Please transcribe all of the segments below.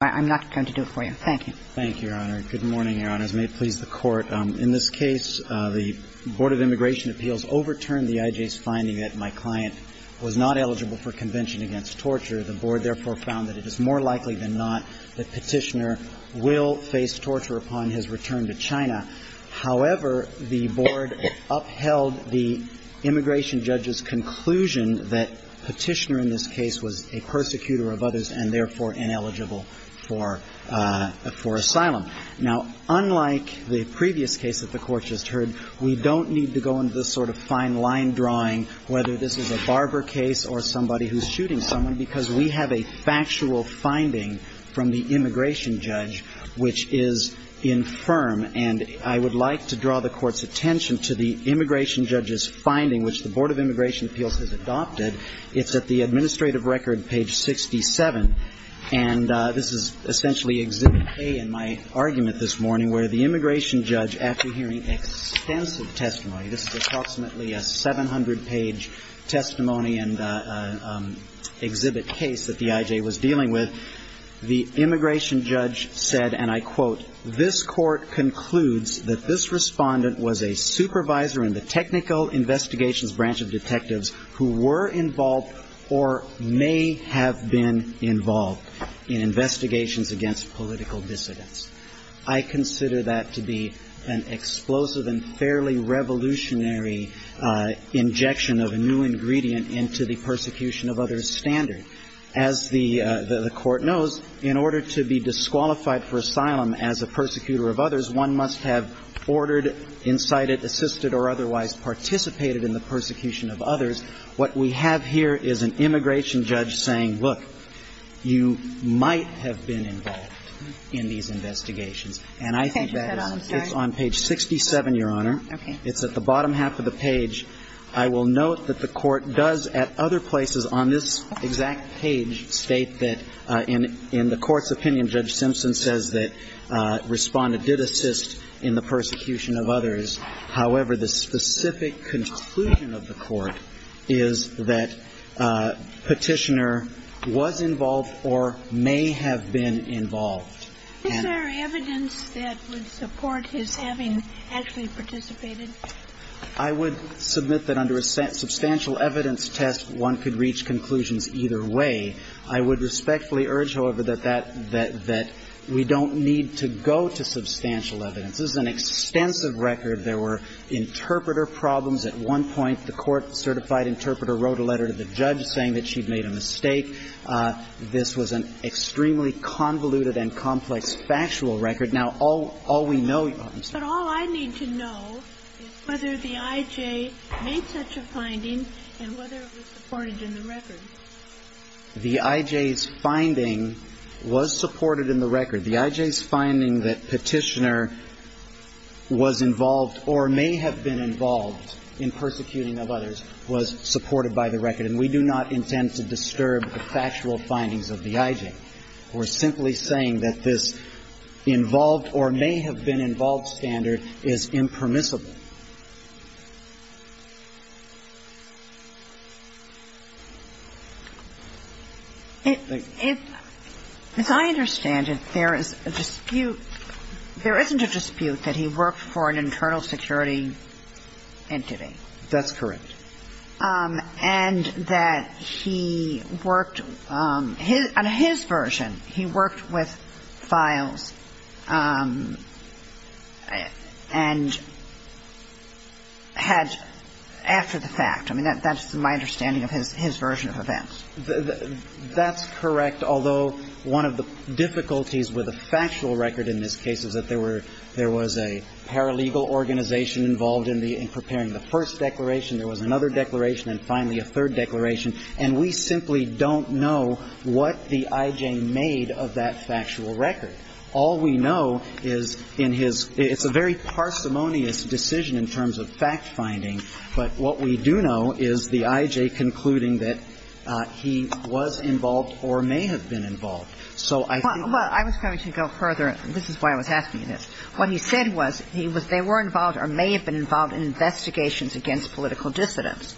I'm not going to do it for you. Thank you. Thank you, Your Honor. Good morning, Your Honors. May it please the Court. In this case, the Board of Immigration Appeals overturned the IJ's finding that my client was not eligible for convention against torture. The Board, therefore, found that it is more likely than not that Petitioner will face torture upon his return to China. However, the Board upheld the immigration judge's conclusion that Petitioner in this case was a persecutor of others and, therefore, ineligible for asylum. Now, unlike the previous case that the Court just heard, we don't need to go into this sort of fine line drawing, whether this is a barber case or somebody who's shooting someone, because we have a factual finding from the immigration judge which is infirm. And I would like to draw the Court's attention to the immigration judge's finding, which the Board of Immigration Appeals has adopted. It's at the administrative record, page 67. And this is essentially Exhibit A in my argument this morning, where the immigration judge, after hearing extensive testimony, this is approximately a 700-page testimony and exhibit case that the IJ was dealing with, the immigration judge said, and I quote, This Court concludes that this respondent was a supervisor in the technical investigations branch of detectives who were involved or may have been involved in investigations against political dissidents. I consider that to be an explosive and fairly revolutionary injection of a new ingredient into the persecution of others standard. As the Court knows, in order to be disqualified for asylum as a persecutor of others, one must have ordered, incited, assisted, or otherwise participated in the persecution of others. What we have here is an immigration judge saying, look, you might have been involved in these investigations. And I think that is on page 67, Your Honor. Okay. It's at the bottom half of the page. I will note that the Court does, at other places on this exact page, state that in the Court's opinion, Judge Simpson says that respondent did assist in the persecution of others. However, the specific conclusion of the Court is that Petitioner was involved or may have been involved. Is there evidence that would support his having actually participated? I would submit that under a substantial evidence test, one could reach conclusions either way. I would respectfully urge, however, that that we don't need to go to substantial evidence. This is an extensive record. There were interpreter problems. At one point, the court-certified interpreter wrote a letter to the judge saying that she'd made a mistake. This was an extremely convoluted and complex factual record. Now, all we know, Your Honor, I'm sorry. But all I need to know is whether the I.J. made such a finding and whether it was supported in the record. The I.J.'s finding was supported in the record. The I.J.'s finding that Petitioner was involved or may have been involved in persecuting of others was supported by the record. And we do not intend to disturb the factual findings of the I.J. We're simply saying that this involved or may have been involved standard is impermissible. If, as I understand it, there is a dispute, there isn't a dispute that he worked for an internal security entity. That's correct. And that he worked, on his version, he worked with files and had, after the fact, I mean, that's my understanding of his version of events. That's correct, although one of the difficulties with a factual record in this case is that there was a paralegal organization involved in preparing the first declaration, there was another declaration, and finally a third declaration. And we simply don't know what the I.J. made of that factual record. All we know is in his, it's a very parsimonious decision in terms of fact-finding, but what we do know is the I.J. concluding that he was involved or may have been involved. So I think that's the problem. Well, I was going to go further. This is why I was asking you this. What he said was he was they were involved or may have been involved in investigations against political dissidents.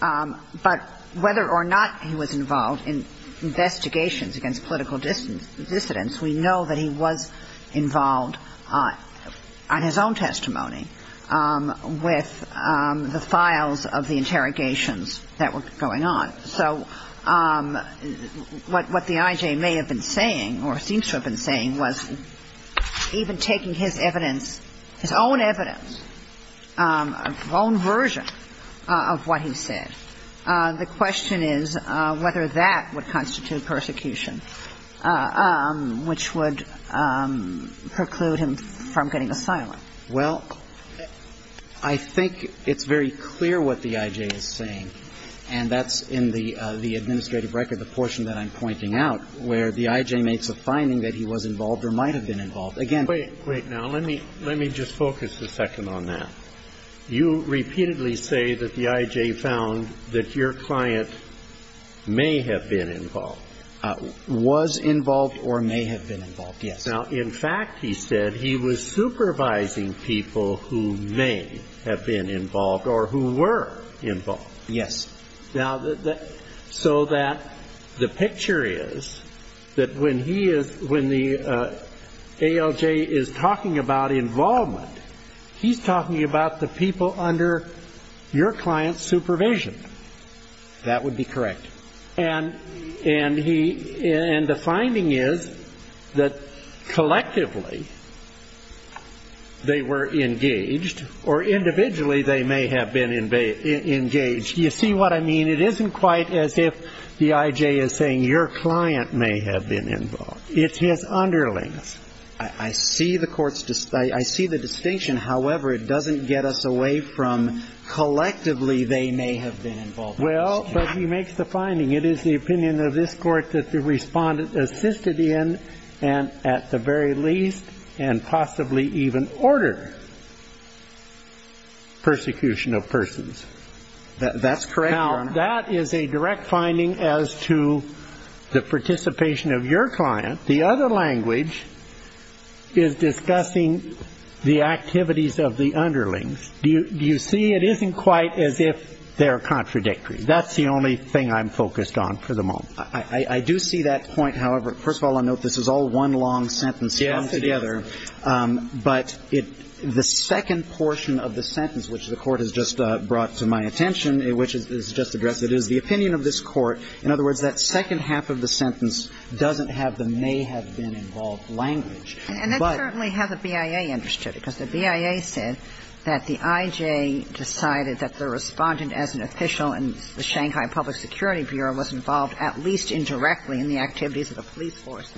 But whether or not he was involved in investigations against political dissidents, we know that he was involved on his own testimony. With the files of the interrogations that were going on. So what the I.J. may have been saying or seems to have been saying was even taking his evidence, his own evidence, his own version of what he said, the question is whether that would constitute persecution, which would preclude him from getting asylum. Well, I think it's very clear what the I.J. is saying. And that's in the administrative record, the portion that I'm pointing out, where the I.J. makes a finding that he was involved or might have been involved. Again. Wait. Wait. Now, let me just focus a second on that. You repeatedly say that the I.J. found that your client may have been involved. Was involved or may have been involved, yes. Now, in fact, he said he was supervising people who may have been involved or who were involved. Yes. Now, so that the picture is that when he is, when the ALJ is talking about involvement, he's talking about the people under your client's supervision. That would be correct. And he, and the finding is that collectively they were engaged or individually they may have been engaged. You see what I mean? It isn't quite as if the I.J. is saying your client may have been involved. It's his underlings. I see the court's, I see the distinction. However, it doesn't get us away from collectively they may have been involved. Well, but he makes the finding it is the opinion of this court that the respondent assisted in and at the very least and possibly even ordered persecution of persons. That's correct, Your Honor. Now, that is a direct finding as to the participation of your client. The other language is discussing the activities of the underlings. Do you see it isn't quite as if they're contradictory? That's the only thing I'm focused on for the moment. I do see that point. However, first of all, I note this is all one long sentence come together. Yes, it is. But the second portion of the sentence, which the court has just brought to my attention, which is just addressed, it is the opinion of this court. In other words, that second half of the sentence doesn't have the may have been involved language. And that's certainly how the BIA understood it, because the BIA said that the I.J. decided that the respondent as an official in the Shanghai Public Security Bureau was involved at least indirectly in the activities of the police force.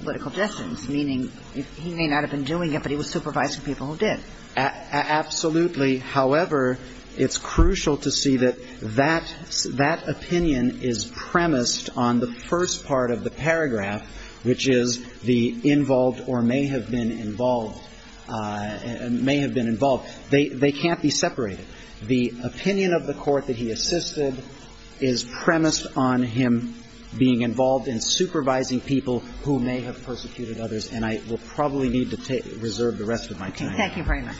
Political distance, meaning he may not have been doing it, but he was supervising people who did. Absolutely. However, it's crucial to see that that opinion is premised on the first part of the paragraph, which is the involved or may have been involved. May have been involved. They can't be separated. The opinion of the court that he assisted is premised on him being involved in supervising people who may have persecuted others. And I will probably need to take reserve the rest of my time. Thank you very much.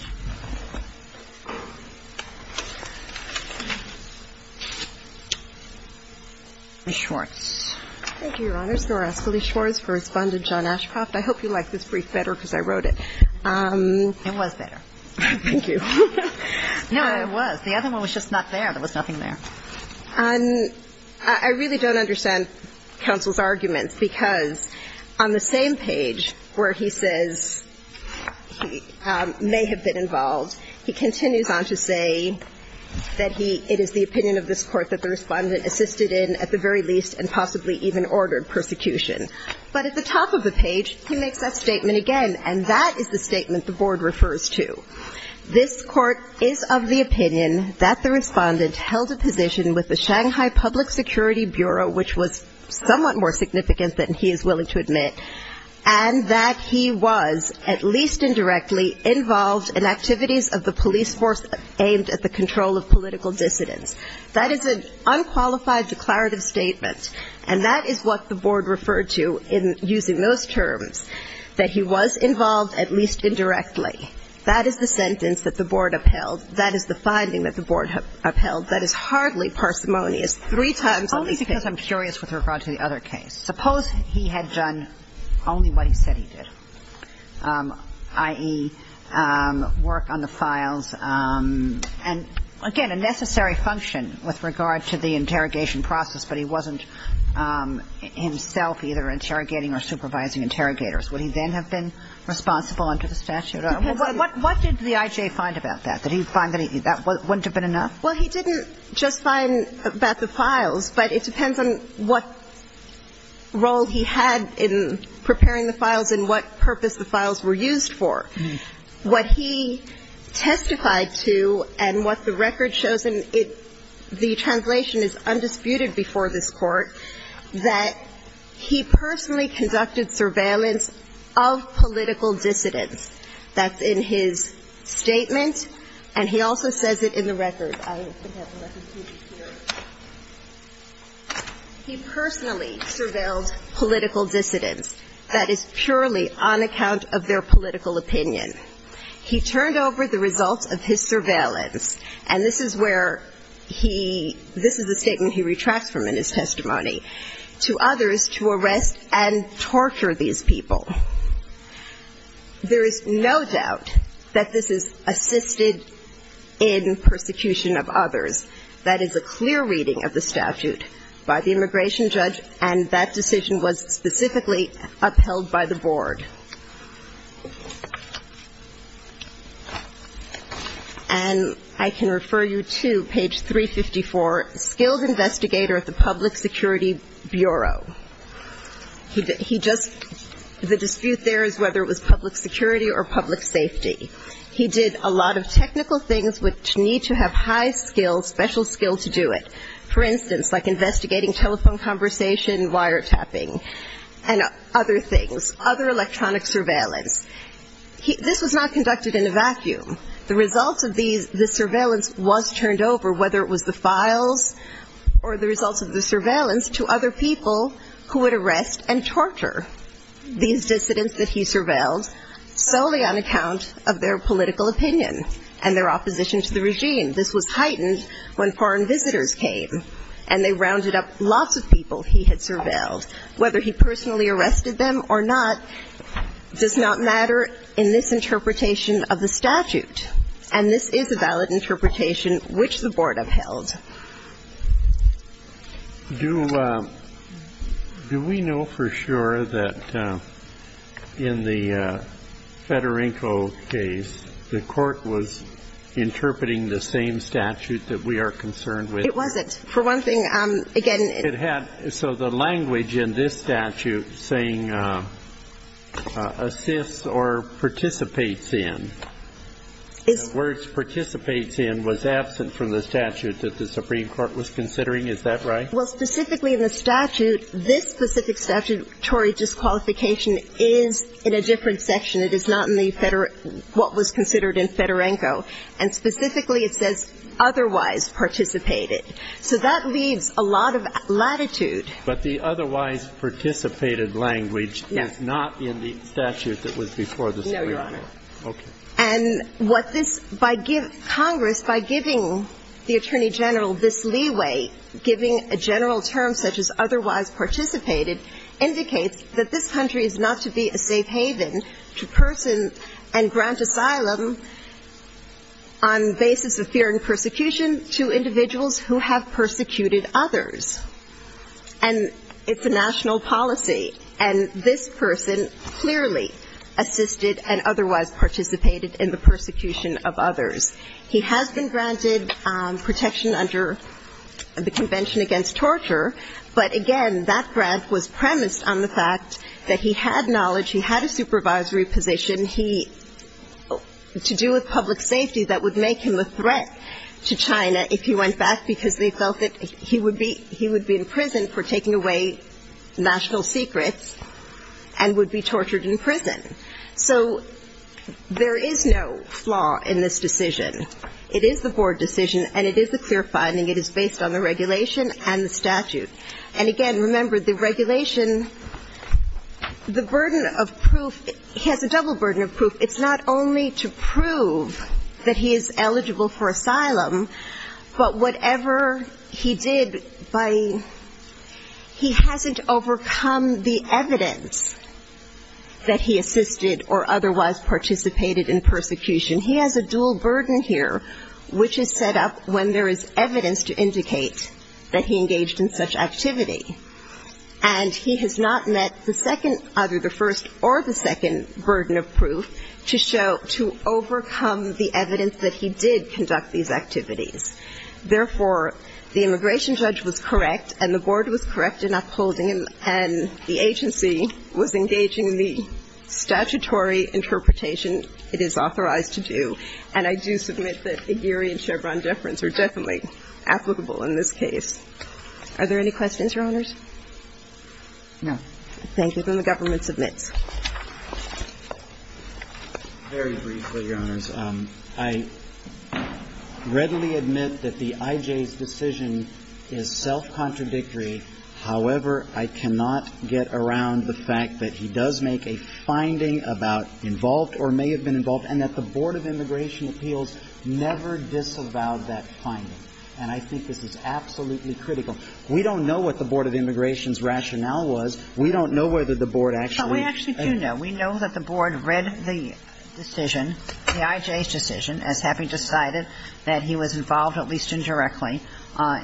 Ms. Schwartz. Thank you, Your Honors. I'm going to ask Ms. Schwartz to respond to John Ashcroft. I hope you like this brief better because I wrote it. It was better. Thank you. No, it was. The other one was just not there. There was nothing there. I really don't understand counsel's arguments, because on the same page where he says he may have been involved, he continues on to say that he – it is the opinion of this court that the respondent assisted in at the very least and possibly even ordered persecution. But at the top of the page, he makes that statement again, and that is the statement the Board refers to. This court is of the opinion that the respondent held a position with the Shanghai Public Security Bureau, which was somewhat more significant than he is willing to admit, and that he was, at least indirectly, involved in activities of the police force aimed at the control of political dissidents. That is an unqualified declarative statement, and that is what the Board referred to in using those terms, that he was involved at least indirectly. That is the sentence that the Board upheld. That is the finding that the Board upheld. That is hardly parsimonious. Three times, at least. Only because I'm curious with regard to the other case. Suppose he had done only what he said he did, i.e., work on the files. And, again, a necessary function with regard to the interrogation process, but he wasn't himself either interrogating or supervising interrogators. Would he then have been responsible under the statute? What did the I.J. find about that? Did he find that that wouldn't have been enough? Well, he didn't just find about the files, but it depends on what role he had in preparing the files and what purpose the files were used for. What he testified to and what the record shows in the translation is undisputed before this Court, that he personally conducted surveillance of political dissidents. That's in his statement, and he also says it in the record. I have the record here. He personally surveilled political dissidents. That is purely on account of their political opinion. He turned over the results of his surveillance. And this is where he – this is the statement he retracts from in his testimony to others to arrest and torture these people. There is no doubt that this is assisted in persecution of others. That is a clear reading of the statute by the immigration judge, and that decision was specifically upheld by the Board. And I can refer you to page 354, Skilled Investigator at the Public Security Bureau. He just – the dispute there is whether it was public security or public safety. He did a lot of technical things which need to have high skill, special skill to do it. For instance, like investigating telephone conversation, wiretapping, and other things, other electronic surveillance. This was not conducted in a vacuum. The results of the surveillance was turned over, whether it was the files or the results of the surveillance to other people who would arrest and torture these dissidents that he surveilled solely on account of their political opinion and their opposition to the regime. This was heightened when foreign visitors came, and they rounded up lots of people he had surveilled. Whether he personally arrested them or not does not matter in this interpretation of the statute. And this is a valid interpretation which the Board upheld. Do we know for sure that in the Federinko case, the court was interpreting the same statute that we are concerned with? It wasn't. For one thing, again – It had – so the language in this statute saying assists or participates in, the words participates in was absent from the statute that the Supreme Court was considering. Is that right? Well, specifically in the statute, this specific statutory disqualification is in a different section. It is not in the – what was considered in Federinko. And specifically, it says otherwise participated. So that leaves a lot of latitude. But the otherwise participated language is not in the statute that was before the Supreme Court. Okay. And what this – Congress, by giving the Attorney General this leeway, giving a general term such as otherwise participated, indicates that this country is not to be a safe haven to person and grant asylum on basis of fear and persecution to individuals who have persecuted others. And it's a national policy. And this person clearly assisted and otherwise participated in the persecution of others. He has been granted protection under the Convention Against Torture, but again, that grant was premised on the fact that he had knowledge, he had a supervisory position, he – to do with public safety, that would make him a threat to China if he went back, because they felt that he would be in prison for taking away national secrets and would be tortured in prison. So there is no flaw in this decision. It is the board decision, and it is a clear finding. It is based on the regulation and the statute. And again, remember, the regulation – the burden of proof – he has a double burden of proof. It's not only to prove that he is eligible for asylum, but whatever he did by – he hasn't overcome the evidence that he assisted or otherwise participated in persecution. He has a dual burden here, which is set up when there is evidence to indicate that he engaged in such activity. And he has not met the second – either the first or the second burden of proof to show – to overcome the evidence that he did conduct these activities. Therefore, the immigration judge was correct, and the board was correct in upholding him, and the agency was engaging in the statutory interpretation it is authorized to do. And I do submit that Aguirre and Chevron deference are definitely applicable in this case. Are there any questions, Your Honors? No. Thank you. Then the government submits. Very briefly, Your Honors. I readily admit that the I.J.'s decision is self-contradictory. However, I cannot get around the fact that he does make a finding about involved or may have been involved, and that the Board of Immigration Appeals never disavowed that finding. And I think this is absolutely critical. We don't know what the Board of Immigration's rationale was. We don't know whether the board actually – No, we actually do know. We know that the board read the decision, the I.J.'s decision, as having decided that he was involved, at least indirectly,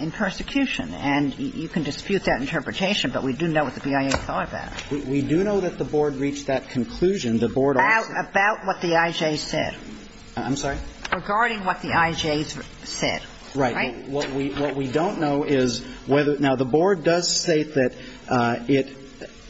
in persecution. And you can dispute that interpretation, but we do know what the BIA thought about it. We do know that the board reached that conclusion. The board also – About what the I.J.'s said. I'm sorry? Regarding what the I.J.'s said. Right. What we don't know is whether – now, the board does state that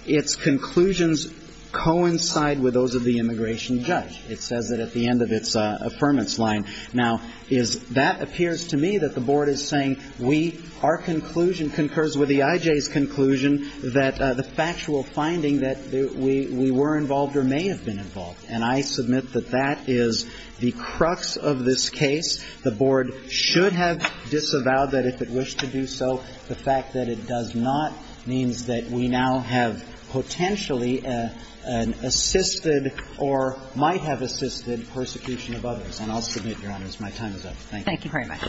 its conclusions coincide with those of the immigration judge. It says that at the end of its affirmance line. Now, is – that appears to me that the board is saying we – our conclusion concurs with the I.J.'s conclusion that the factual finding that we were involved or may have been involved. And I submit that that is the crux of this case. The board should have disavowed that if it wished to do so. The fact that it does not means that we now have potentially an assisted or might have assisted persecution of others. And I'll submit, Your Honors, my time is up. Thank you. Thank you very much.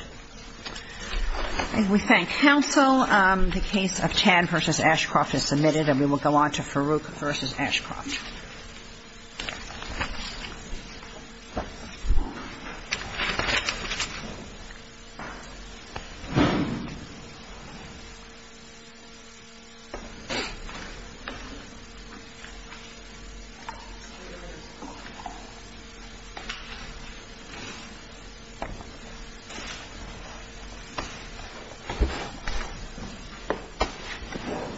We thank counsel. The case of Tan v. Ashcroft is submitted. And we will go on to Farouk v. Ashcroft. Thank you. Thank you.